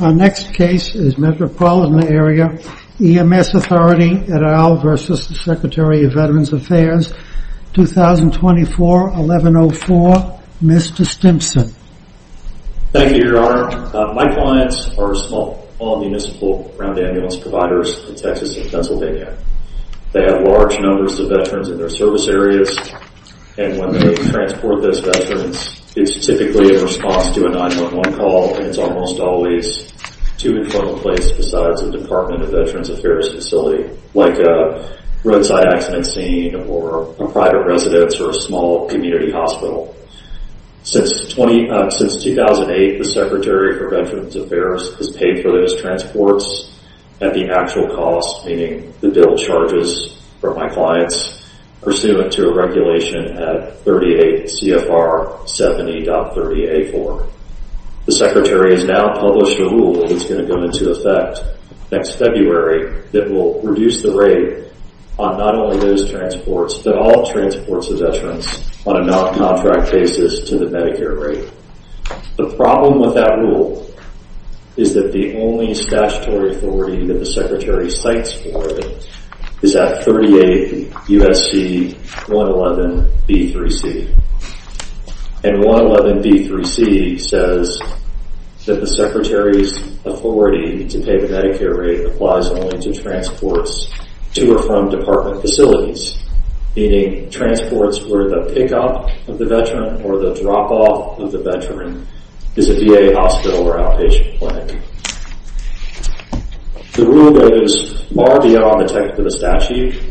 Our next case is Metropolitan Area EMS Authority et al. v. Secretary of Veterans Affairs 2024-1104, Mr. Stimpson. Thank you, Your Honor. My clients are small municipal ground ambulance providers in Texas and Pennsylvania. They have large numbers of veterans in their service areas and when they transport those veterans it's typically in response to a 911 call and it's almost always to and from a place besides a Department of Veterans Affairs facility, like a roadside accident scene or a private residence or a small community hospital. Since 2008, the Secretary of Veterans Affairs has paid for those transports at the actual cost, meaning the bill charges for my clients, pursuant to a regulation at 38 CFR 70.30A4. The Secretary has now published a rule that's going to go into effect next February that will reduce the rate on not only those transports but all transports of veterans on a non-contract basis to the Medicare rate. The problem with that rule is that the only statutory authority that the Secretary cites for it is at 38 USC 111B3C and 111B3C says that the Secretary's authority to pay the Medicare rate applies only to transports to or from department facilities, meaning transports where the pickup of the veteran or the drop-off of the veteran is a VA hospital or outpatient clinic. The rule goes far beyond the type of the statute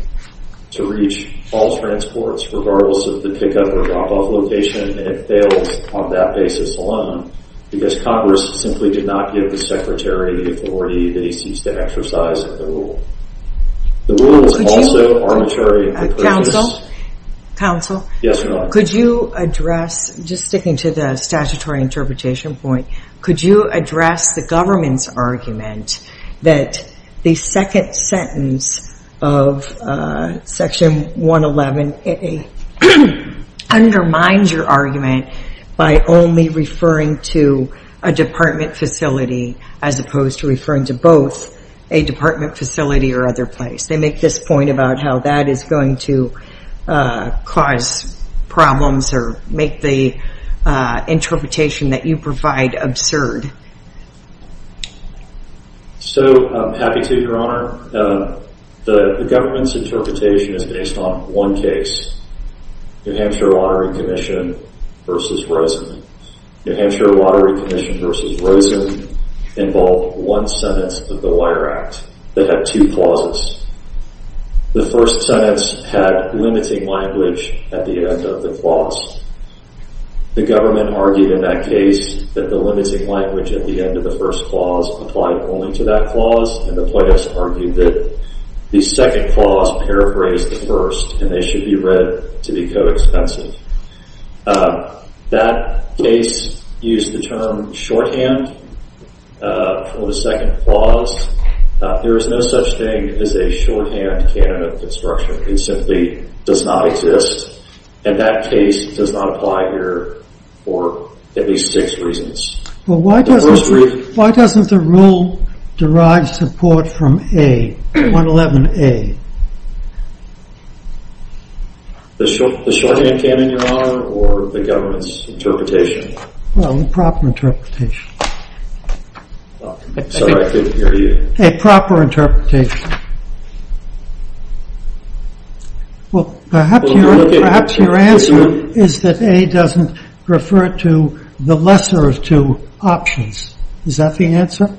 to reach all transports, regardless of the pickup or drop-off location, and it fails on that basis alone because Congress simply did not give the Secretary the authority that he seeks to exercise at the rule. The rule is also arbitrary and purposeless. Counsel? Yes, Your Honor. Could you address, just sticking to the statutory interpretation point, could you address the government's argument that the second sentence of Section 111A undermines your argument by only referring to a department facility as opposed to referring to both a department facility or other place? They make this point about how that is going to cause problems or make the interpretation that you provide absurd. So, I'm happy to, Your Honor. The government's interpretation is based on one case, New Hampshire Lottery Commission versus Rosen. New Hampshire Lottery Commission versus Rosen involved one sentence of the Wire Act that had two clauses. The first sentence had limiting language at the end of the clause. The government argued in that case that the limiting language at the end of the first clause applied only to that clause, and the plaintiffs argued that the second clause paraphrased the first, and they should be read to be co-expensive. That case used the term shorthand for the second clause. There is no such thing as a shorthand canon of construction. It simply does not exist, and that case does not apply here for at least six reasons. Why doesn't the rule derive support from A, 111A? The shorthand canon, Your Honor, or the government's interpretation? Well, the proper interpretation. Sorry, I couldn't hear you. A proper interpretation. Well, perhaps your answer is that A doesn't refer to the lesser of two options. Is that the answer?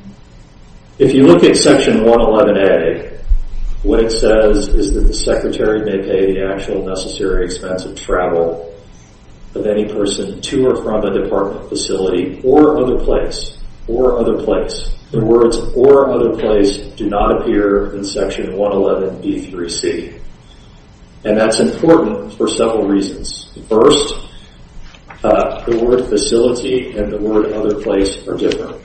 If you look at Section 111A, what it says is that the Secretary may pay the actual necessary expense of travel of any person to or from a department facility or other place, or other place. The words or other place do not appear in Section 111B3C, and that's important for several reasons. First, the word facility and the word other place are different.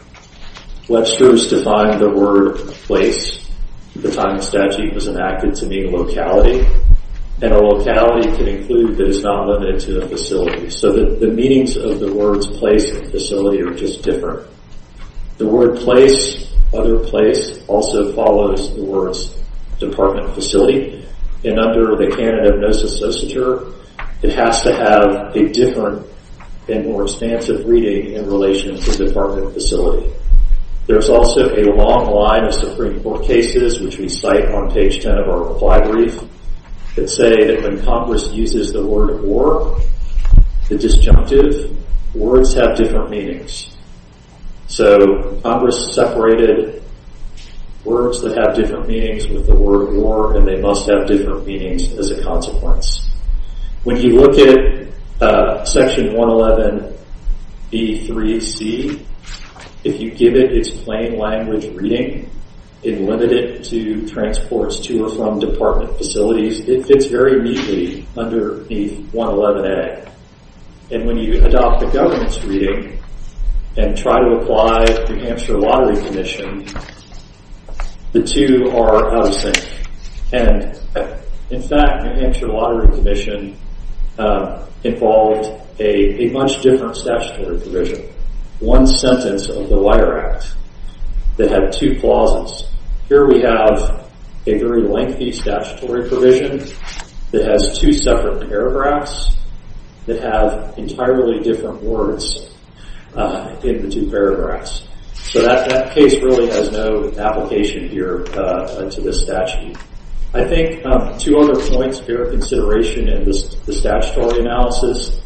Webster's defined the word place at the time the statute was enacted to mean locality, and a locality can include that it's not limited to a facility. So the meanings of the words place and facility are just different. The word place, other place, also follows the words department facility, and under the canon of nocicepture, it has to have a different and more expansive reading in relation to the department facility. There's also a long line of Supreme Court cases, which we cite on page 10 of our reply brief, that say that when Congress uses the word war, the disjunctive words have different meanings. So Congress separated words that have different meanings with the word war, and they must have different meanings as a consequence. When you look at Section 111B3C, if you give it its plain language reading, it limited it to transports to or from department facilities. It fits very neatly underneath 111A, and when you adopt the government's reading and try to apply New Hampshire Lottery Commission, the two are out of sync. And in fact, New Hampshire Lottery Commission involved a much different statutory provision. One sentence of the Wire Act that had two clauses. Here we have a very lengthy statutory provision that has two separate paragraphs that have entirely different words in the two paragraphs. So that case really has no application here to this statute. I think two other points here of consideration in the statutory analysis.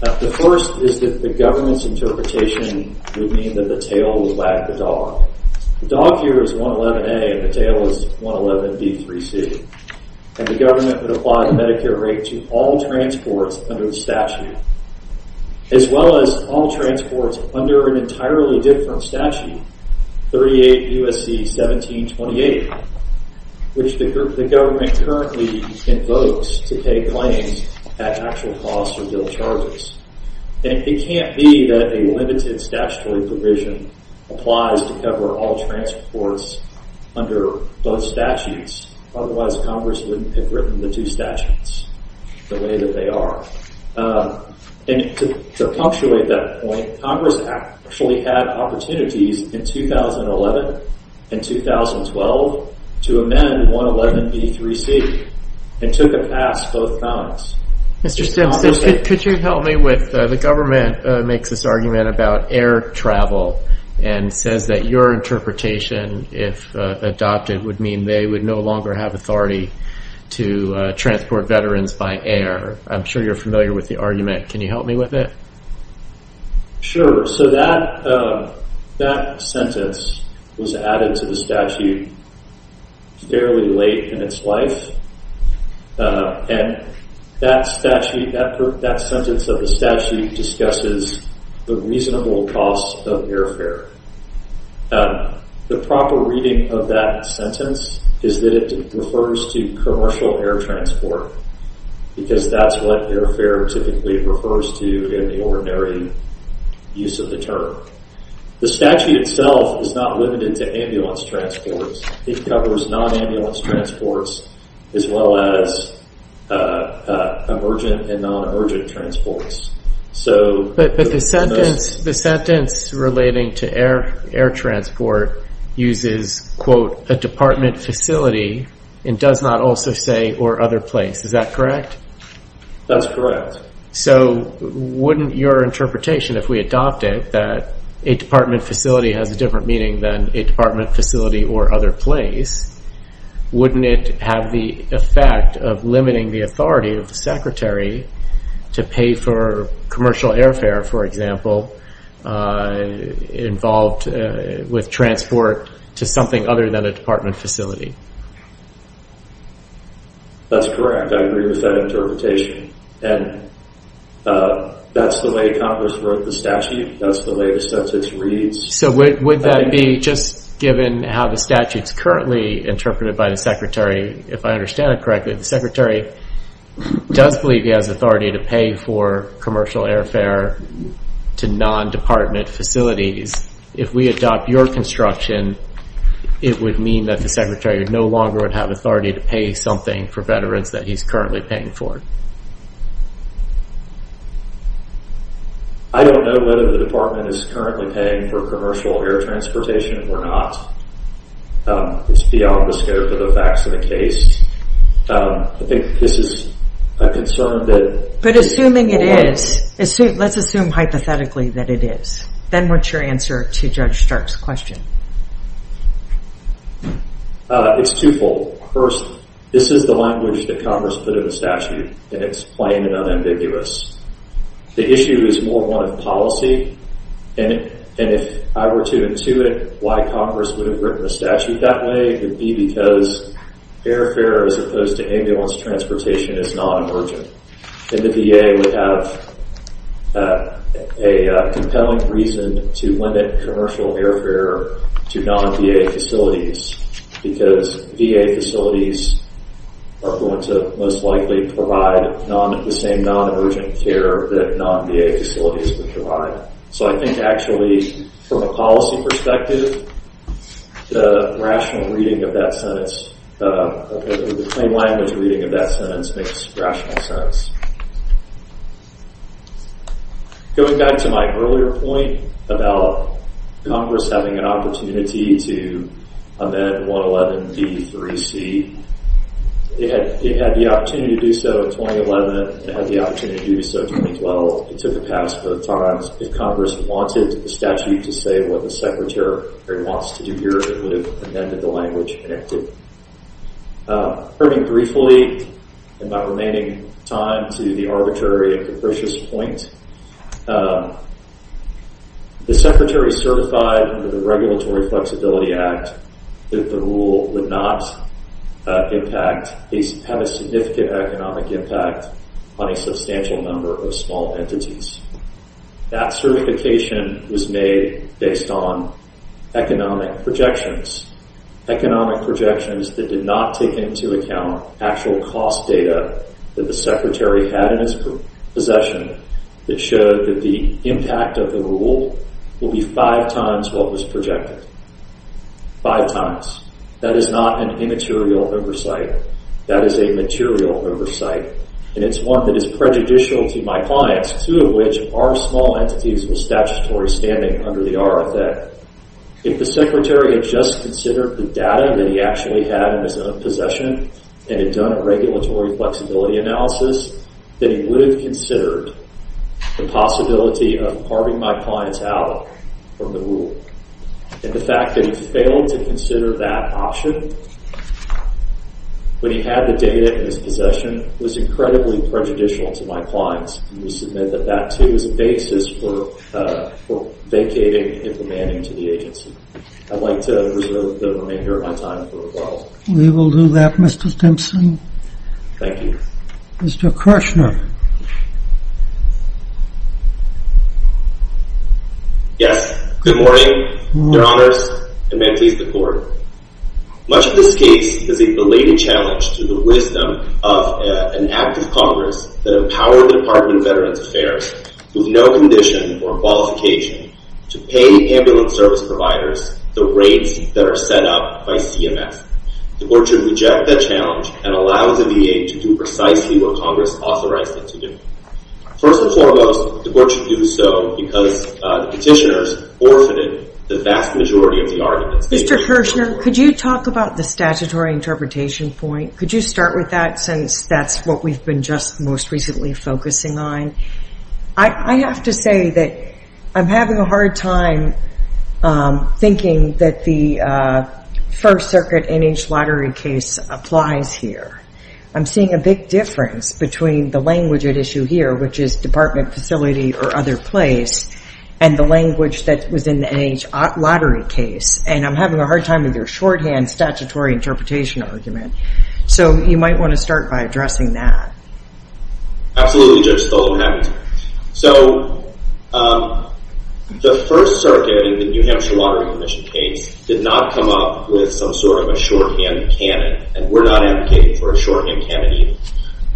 The first is that the government's interpretation would mean that the tail would wag the dog. The dog here is 111A, and the tail is 111B3C. And the government would apply the Medicare rate to all transports under the statute, as well as all transports under an entirely different statute, 38 U.S.C. 1728, which the government currently invokes to pay claims at actual costs or bill charges. And it can't be that a limited statutory provision applies to cover all transports under both statutes. Otherwise, Congress wouldn't have written the two statutes the way that they are. And to punctuate that point, Congress actually had opportunities in 2011 and 2012 to amend 111B3C and took a pass both times. Mr. Stimson, could you help me with the government makes this argument about air travel and says that your interpretation, if adopted, would mean they would no longer have authority to transport veterans by air. I'm sure you're familiar with the argument. Can you help me with it? Sure. So that sentence was added to the statute fairly late in its life. And that sentence of the statute discusses the reasonable cost of airfare. The proper reading of that sentence is that it refers to commercial air transport, because that's what airfare typically refers to in the ordinary use of the term. The statute itself is not limited to ambulance transports. It covers non-ambulance transports as well as emergent and non-emergent transports. The sentence relating to air transport uses, quote, a department facility and does not also say or other place. Is that correct? That's correct. So wouldn't your interpretation, if we adopt it, that a department facility has a different meaning than a department facility or other place, wouldn't it have the effect of limiting the authority of the secretary to pay for commercial airfare, for example, involved with transport to something other than a department facility? That's correct. I agree with that interpretation. And that's the way Congress wrote the statute. That's the way the sentence reads. So would that be just given how the statute's currently interpreted by the secretary, if I understand it correctly, the secretary does believe he has authority to pay for commercial airfare to non-department facilities. If we adopt your construction, it would mean that the secretary no longer would have authority to pay something for veterans that he's currently paying for. I don't know whether the department is currently paying for commercial air transportation or not. It's beyond the scope of the facts of the case. I think this is a concern that- But assuming it is, let's assume hypothetically that it is. Then what's your answer to Judge Stark's question? It's twofold. First, this is the language that Congress put in the statute. And it's plain and unambiguous. The issue is more one of policy. And if I were to intuit why Congress would have written the statute that way, it would be because airfare as opposed to ambulance transportation is non-emergent. And the VA would have a compelling reason to limit commercial airfare to non-VA facilities because VA facilities are going to most likely provide the same non-emergent care that non-VA facilities would provide. So I think actually from a policy perspective, the rational reading of that sentence, the plain language reading of that sentence makes rational sense. Going back to my earlier point about Congress having an opportunity to amend 111B3C, it had the opportunity to do so in 2011 and it had the opportunity to do so in 2012. It took a pass both times. If Congress wanted the statute to say what the Secretary wants to do here, it would have amended the language and it did. Turning briefly and by remaining time to the arbitrary and capricious point, the Secretary certified under the Regulatory Flexibility Act that the rule would not impact, have a significant economic impact on a substantial number of small entities. That certification was made based on economic projections. Economic projections that did not take into account actual cost data that the Secretary had in his possession that showed that the impact of the rule will be five times what was projected. Five times. That is not an immaterial oversight. That is a material oversight. And it's one that is prejudicial to my clients, two of which are small entities with statutory standing under the RFA. If the Secretary had just considered the data that he actually had in his own possession and had done a regulatory flexibility analysis, then he would have considered the possibility of carving my clients out from the rule. And the fact that he failed to consider that option when he had the data in his possession was incredibly prejudicial to my clients. We submit that that, too, is a basis for vacating, implementing to the agency. I'd like to reserve the remainder of my time for a while. We will do that, Mr. Simpson. Thank you. Mr. Kershner. Yes. Good morning, Your Honors and mentees of the Court. Much of this case is a blatant challenge to the wisdom of an act of Congress that empowered the Department of Veterans Affairs with no condition or qualification to pay ambulance service providers the rates that are set up by CMS. The Court should reject that challenge and allow the VA to do precisely what Congress authorized it to do. First and foremost, the Court should do so because the petitioners forfeited the vast majority of the arguments. Mr. Kershner, could you talk about the statutory interpretation point? Could you start with that since that's what we've been just most recently focusing on? I have to say that I'm having a hard time thinking that the First Circuit N.H. lottery case applies here. I'm seeing a big difference between the language at issue here, which is department facility or other place, and the language that was in the N.H. lottery case. And I'm having a hard time with your shorthand statutory interpretation argument. So you might want to start by addressing that. Absolutely, Judge Stolten, I'm happy to. So the First Circuit in the New Hampshire Lottery Commission case did not come up with some sort of a shorthand canon, and we're not advocating for a shorthand canon either.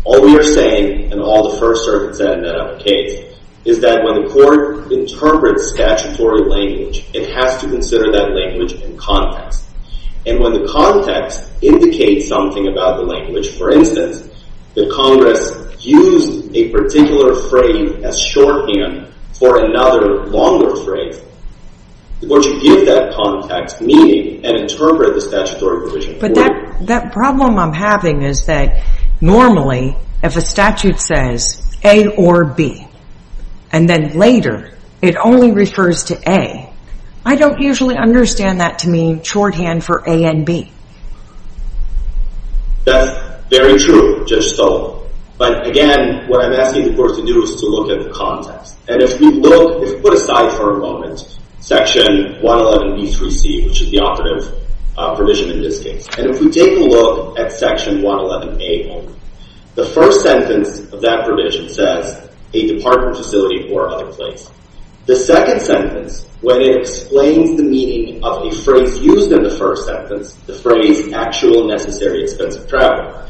All we are saying, and all the First Circuit said in that other case, is that when the Court interprets statutory language, it has to consider that language in context. And when the context indicates something about the language, for instance, that Congress used a particular phrase as shorthand for another longer phrase, would you give that context meaning and interpret the statutory provision for it? But that problem I'm having is that normally if a statute says A or B, and then later it only refers to A, I don't usually understand that to mean shorthand for A and B. That's very true, Judge Stolten. But again, what I'm asking the Court to do is to look at the context. And if we look, if we put aside for a moment Section 111b-c, which is the operative provision in this case, and if we take a look at Section 111a only, the first sentence of that provision says a department facility or other place. The second sentence, when it explains the meaning of a phrase used in the first sentence, the phrase actual necessary expense of travel,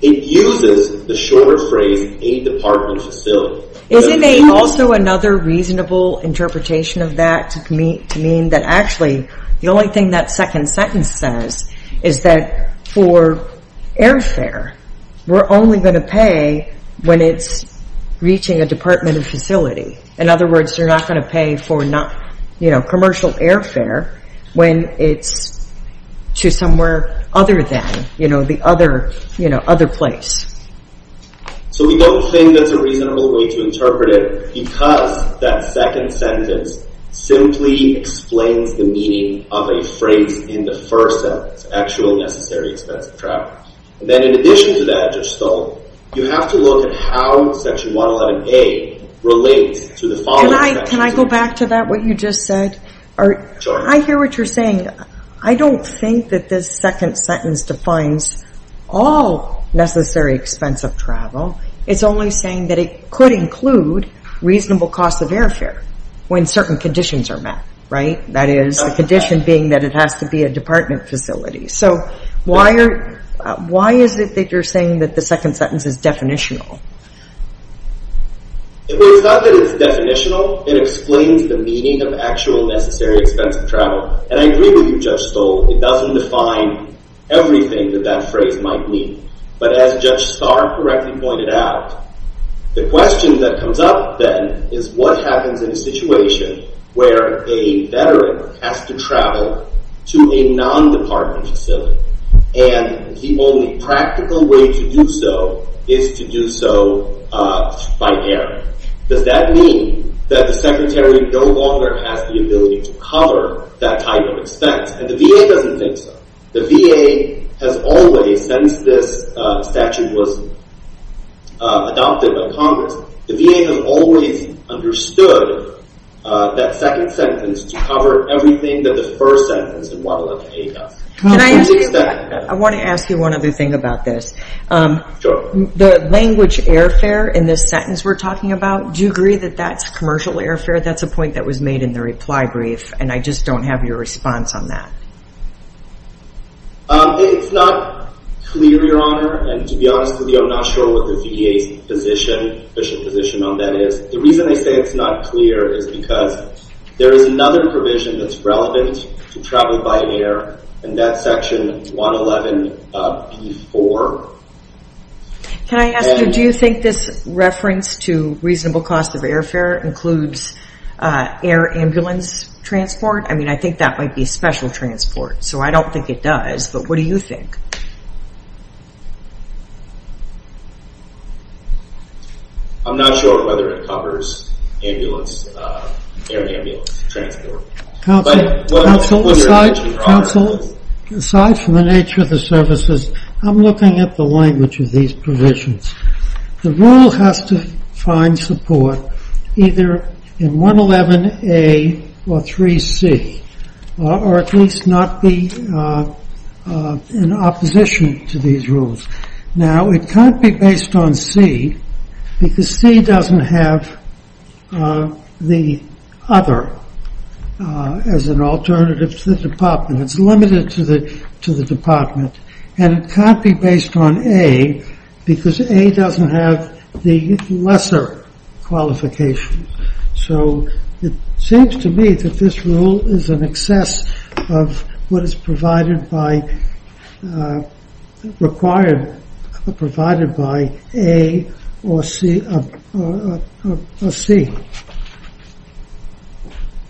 it uses the short phrase a department facility. Isn't there also another reasonable interpretation of that to mean that actually the only thing that second sentence says is that for airfare, we're only going to pay when it's reaching a department facility? In other words, you're not going to pay for commercial airfare when it's to somewhere other than the other place. So we don't think that's a reasonable way to interpret it because that second sentence simply explains the meaning of a phrase in the first sentence, actual necessary expense of travel. Then in addition to that, Judge Stolten, you have to look at how Section 111a relates to the following section. Can I go back to that, what you just said? I hear what you're saying. I don't think that this second sentence defines all necessary expense of travel. It's only saying that it could include reasonable cost of airfare when certain conditions are met, right? That is, the condition being that it has to be a department facility. So why is it that you're saying that the second sentence is definitional? It's not that it's definitional. It explains the meaning of actual necessary expense of travel. And I agree with you, Judge Stolten. It doesn't define everything that that phrase might mean. But as Judge Starr correctly pointed out, the question that comes up then is what happens in a situation where a veteran has to travel to a non-department facility and the only practical way to do so is to do so by air. Does that mean that the secretary no longer has the ability to cover that type of expense? And the VA doesn't think so. The VA has always, since this statute was adopted by Congress, the VA has always understood that second sentence to cover everything that the first sentence in 111A does. Can I ask you, I want to ask you one other thing about this. The language airfare in this sentence we're talking about, do you agree that that's commercial airfare? That's a point that was made in the reply brief. And I just don't have your response on that. It's not clear, Your Honor. And to be honest with you, I'm not sure what the VA's position on that is. The reason they say it's not clear is because there is another provision that's relevant to travel by air, and that's section 111B4. Can I ask you, do you think this reference to reasonable cost of airfare includes air ambulance transport? I mean, I think that might be special transport. So I don't think it does. But what do you think? I'm not sure whether it covers air ambulance transport. Counsel, aside from the nature of the services, I'm looking at the language of these provisions. The rule has to find support either in 111A or 3C, or at least not be in opposition to these rules. Now, it can't be based on C, because C doesn't have the other as an alternative to the department. It's limited to the department. And it can't be based on A, because A doesn't have the lesser qualifications. So it seems to me that this rule is an excess of what is provided by A or C.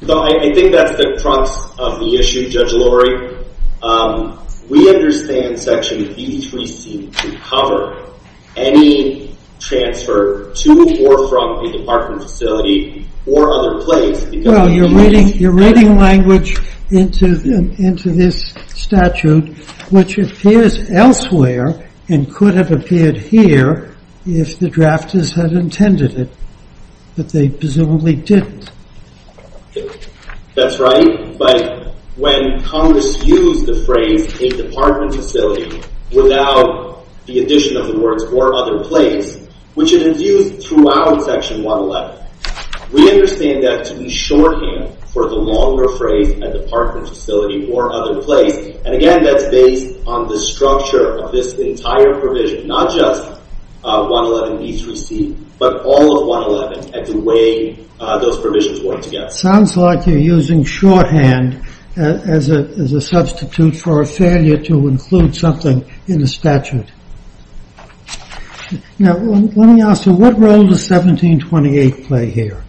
I think that's the crux of the issue, Judge Lurie. We understand section B3C to cover any transfer to or from a department facility or other place. Well, you're reading language into this statute, which appears elsewhere and could have appeared here if the drafters had intended it. But they presumably didn't. That's right. But when Congress used the phrase, a department facility, without the addition of the words or other place, which it has used throughout section 111, we understand that to be shorthand for the longer phrase, a department facility or other place. And again, that's based on the structure of this entire provision, not just 111B3C, but all of 111, and the way those provisions work together. Sounds like you're using shorthand as a substitute for a failure to include something in the statute. Now, let me ask you, what role does 1728 play here?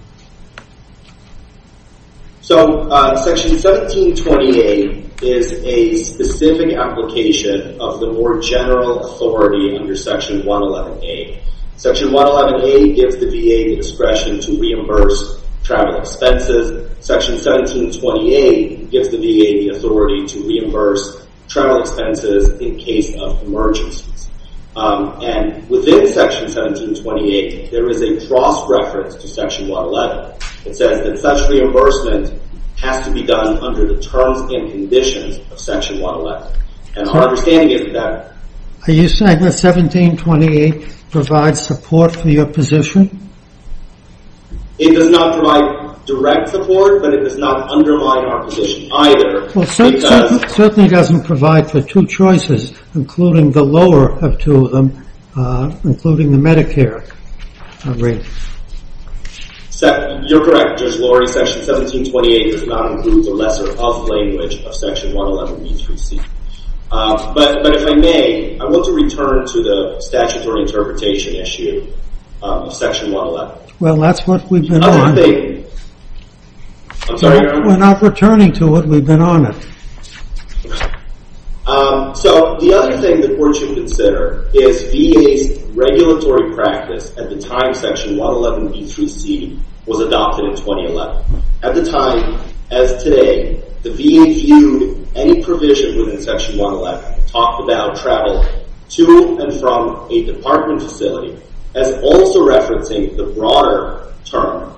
So section 1728 is a specific application of the more general authority under section 111A. Section 111A gives the VA the discretion to reimburse travel expenses. Section 1728 gives the VA the authority to reimburse travel expenses in case of emergencies. And within section 1728, there is a cross-reference to section 111. It says that such reimbursement has to be done under the terms and conditions of section 111. And our understanding is that… Are you saying that 1728 provides support for your position? It does not provide direct support, but it does not undermine our position either. Well, it certainly doesn't provide for two choices, including the lower of two of them, including the Medicare rate. You're correct, Judge Laurie. Section 1728 does not include the lesser of language of section 111B3C. But if I may, I want to return to the statutory interpretation issue of section 111. Well, that's what we've been on. I'm sorry, Your Honor. We're not returning to it. We've been on it. So the other thing that we're to consider is VA's regulatory practice at the time section 111B3C was adopted in 2011. At the time, as today, the VA viewed any provision within section 111, talked about travel to and from a department facility, as also referencing the broader term,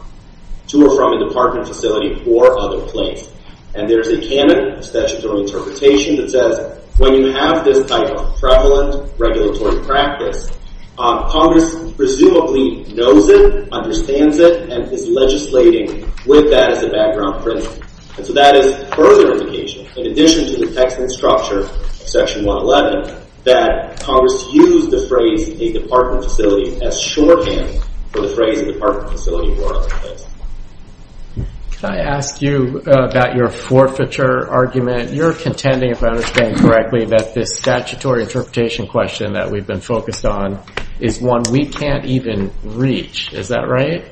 to or from a department facility or other place. And there's a canon of statutory interpretation that says when you have this type of prevalent regulatory practice, Congress presumably knows it, understands it, and is legislating with that as a background principle. And so that is further indication, in addition to the text and structure of section 111, that Congress used the phrase a department facility as shorthand for the phrase a department facility or other place. Can I ask you about your forfeiture argument? You're contending, if I understand correctly, that this statutory interpretation question that we've been focused on is one we can't even reach. Is that right?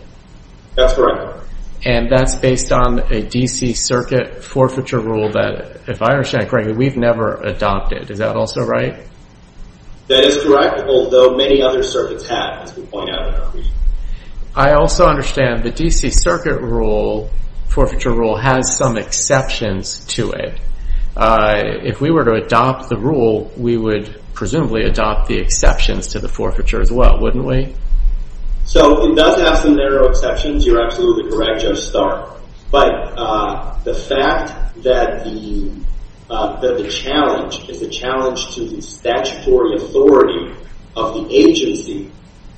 That's correct. And that's based on a D.C. Circuit forfeiture rule that, if I understand correctly, we've never adopted. Is that also right? That is correct, although many other circuits have, as we point out in our brief. I also understand the D.C. Circuit rule, forfeiture rule, has some exceptions to it. If we were to adopt the rule, we would presumably adopt the exceptions to the forfeiture as well, wouldn't we? So it does have some narrow exceptions. You're absolutely correct. But the fact that the challenge is a challenge to the statutory authority of the agency,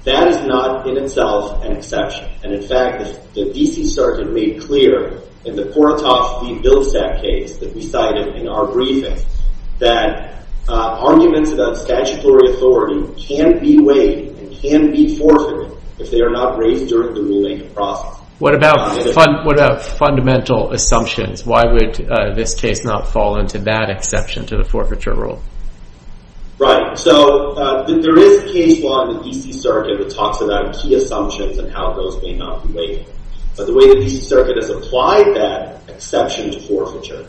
that is not in itself an exception. And in fact, the D.C. Circuit made clear in the Korotov v. Bilsak case that we cited in our briefing that arguments about statutory authority can be weighed and can be forfeited if they are not raised during the rulemaking process. What about fundamental assumptions? Why would this case not fall into that exception to the forfeiture rule? Right. So there is a case law in the D.C. Circuit that talks about key assumptions and how those may not be weighed. But the way the D.C. Circuit has applied that exception to forfeiture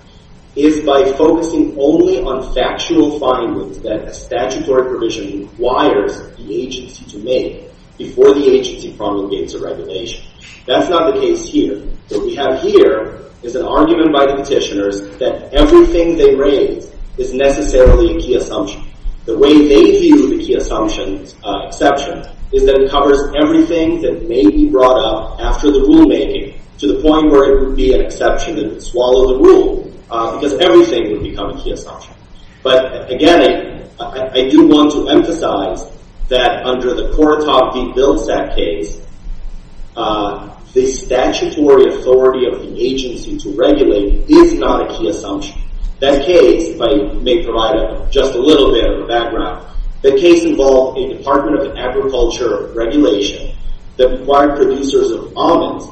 is by focusing only on factual findings that a statutory provision requires the agency to make before the agency promulgates a regulation. That's not the case here. What we have here is an argument by the petitioners that everything they raise is necessarily a key assumption. The way they view the key assumptions exception is that it covers everything that may be brought up after the rulemaking to the point where it would be an exception and swallow the rule because everything would become a key assumption. But again, I do want to emphasize that under the Korotov v. Millicent case, the statutory authority of the agency to regulate is not a key assumption. That case, if I may provide just a little bit of a background, that case involved a Department of Agriculture regulation that required producers of almonds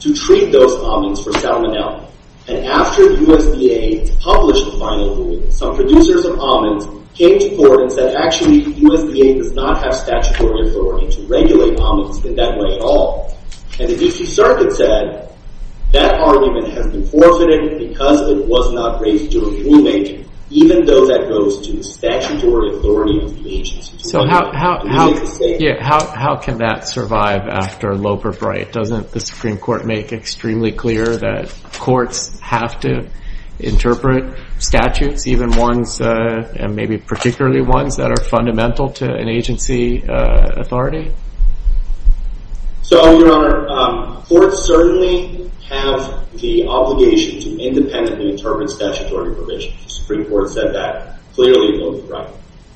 to treat those almonds for salmonella. And after the USDA published the final rule, some producers of almonds came to court and actually USDA does not have statutory authority to regulate almonds in that way at all. And the D.C. Circuit said that argument has been forfeited because it was not raised during rulemaking, even though that goes to the statutory authority of the agency. So how can that survive after Loeb or Bright? Doesn't the Supreme Court make extremely clear that courts have to interpret statutes, even and maybe particularly ones that are fundamental to an agency authority? So, Your Honor, courts certainly have the obligation to independently interpret statutory provisions. The Supreme Court said that clearly in Loeb and Bright.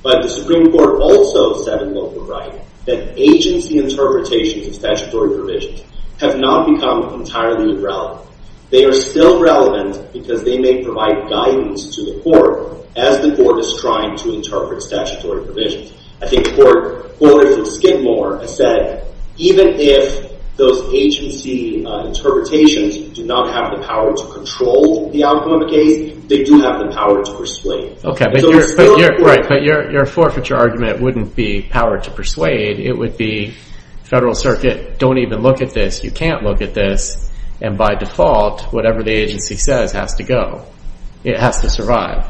But the Supreme Court also said in Loeb and Bright that agency interpretations of statutory provisions have not become entirely irrelevant. They are still relevant because they may provide guidance to the court as the court is trying to interpret statutory provisions. I think the Court of Skidmore has said even if those agency interpretations do not have the power to control the outcome of a case, they do have the power to persuade. Okay, but your forfeiture argument wouldn't be power to persuade. It would be Federal Circuit, don't even look at this. You can't look at this. And by default, whatever the agency says has to go. It has to survive.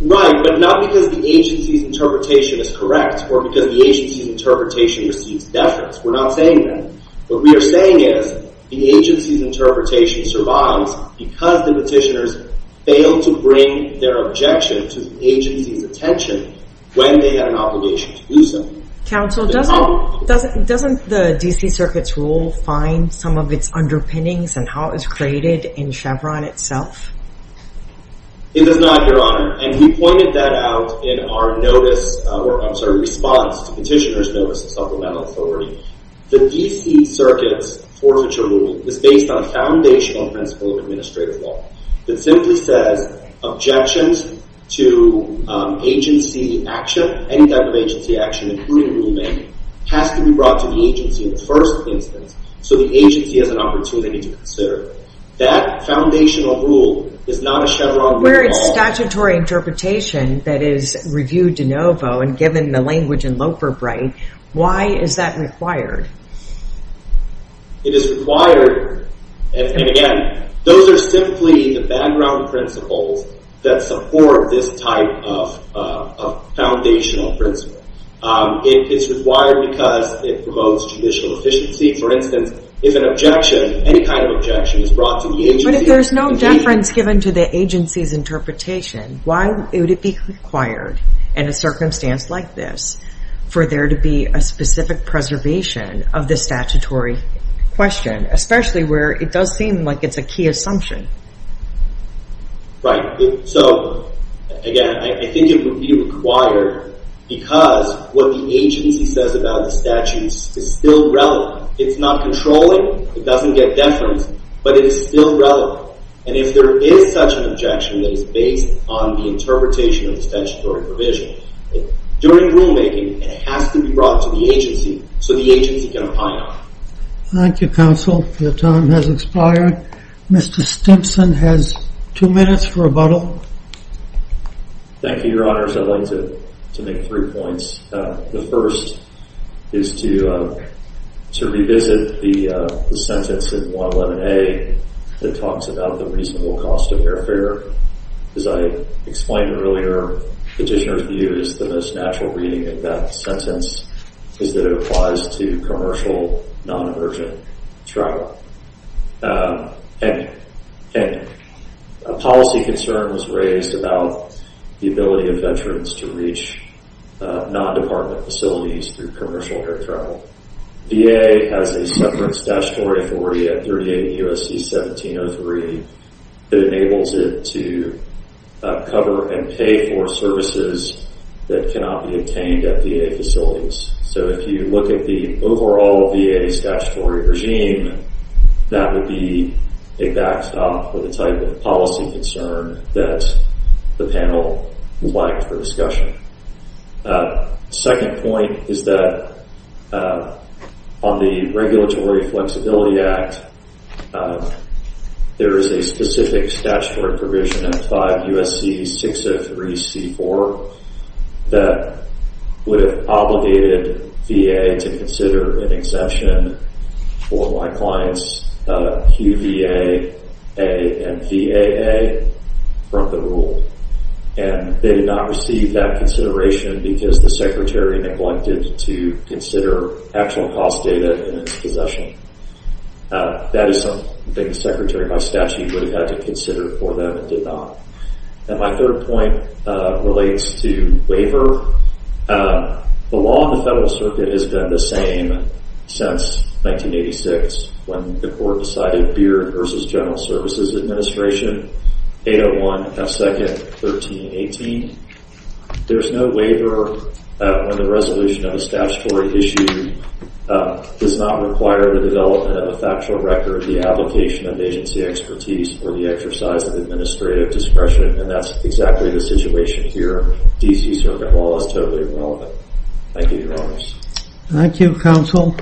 Right, but not because the agency's interpretation is correct or because the agency's interpretation receives deference. We're not saying that. What we are saying is the agency's interpretation survives because the petitioners failed to bring their objection to the agency's attention when they had an obligation to do so. Counsel, doesn't the D.C. Circuit's rule find some of its underpinnings and how it was created in Chevron itself? It does not, Your Honor. And he pointed that out in our notice or sort of response to Petitioner's Notice of Supplemental Authority. The D.C. Circuit's forfeiture rule is based on a foundational principle of administrative law that simply says objections to agency action, any type of agency action, including rulemaking, has to be brought to the agency in the first instance so the agency has an opportunity to consider it. That foundational rule is not a Chevron rule at all. Where it's statutory interpretation that is reviewed de novo and given the language in Loperbright, why is that required? It is required. And again, those are simply the background principles that support this type of foundational principle. It's required because it promotes judicial efficiency. For instance, if an objection, any kind of objection, is brought to the agency— But if there's no deference given to the agency's interpretation, why would it be required in a circumstance like this for there to be a specific preservation of the statutory question, especially where it does seem like it's a key assumption? Right. So again, I think it would be required because what the agency says about the statutes is still relevant. It's not controlling. It doesn't get deference. But it is still relevant. And if there is such an objection that is based on the interpretation of the statutory provision, during rulemaking, it has to be brought to the agency so the agency can opine Thank you, Counsel. Your time has expired. Mr. Stimson has two minutes for rebuttal. Thank you, Your Honors. I'd like to make three points. The first is to revisit the sentence in 111A that talks about the reasonable cost of airfare. As I explained earlier, Petitioner's view is the most natural reading of that sentence is that it applies to commercial non-emergent travel. And a policy concern was raised about the ability of veterans to reach non-department facilities through commercial air travel. VA has a separate statutory authority at 38 U.S.C. 1703 that enables it to cover and pay for services that cannot be obtained at VA facilities. So if you look at the overall VA statutory regime, that would be a backstop for the type of policy concern that the panel would like for discussion. Second point is that on the Regulatory Flexibility Act, there is a specific statutory provision in 5 U.S.C. 603 C.4 that would have obligated VA to consider an exemption for my clients QVA and VAA from the rule. And they did not receive that consideration because the Secretary neglected to consider actual cost data in its possession. That is something the Secretary of my statute would have had to consider for them and did not. And my third point relates to waiver. The law in the Federal Circuit has been the same since 1986 when the Court decided Beard v. General Services Administration 801 F. 2nd. 1318. There is no waiver when the resolution of a statutory issue does not require the development of a factual record, the application of agency expertise, or the exercise of administrative discretion. And that is exactly the situation here. D.C. Circuit law is totally irrelevant. Thank you, Your Honors. Thank you, Counsel.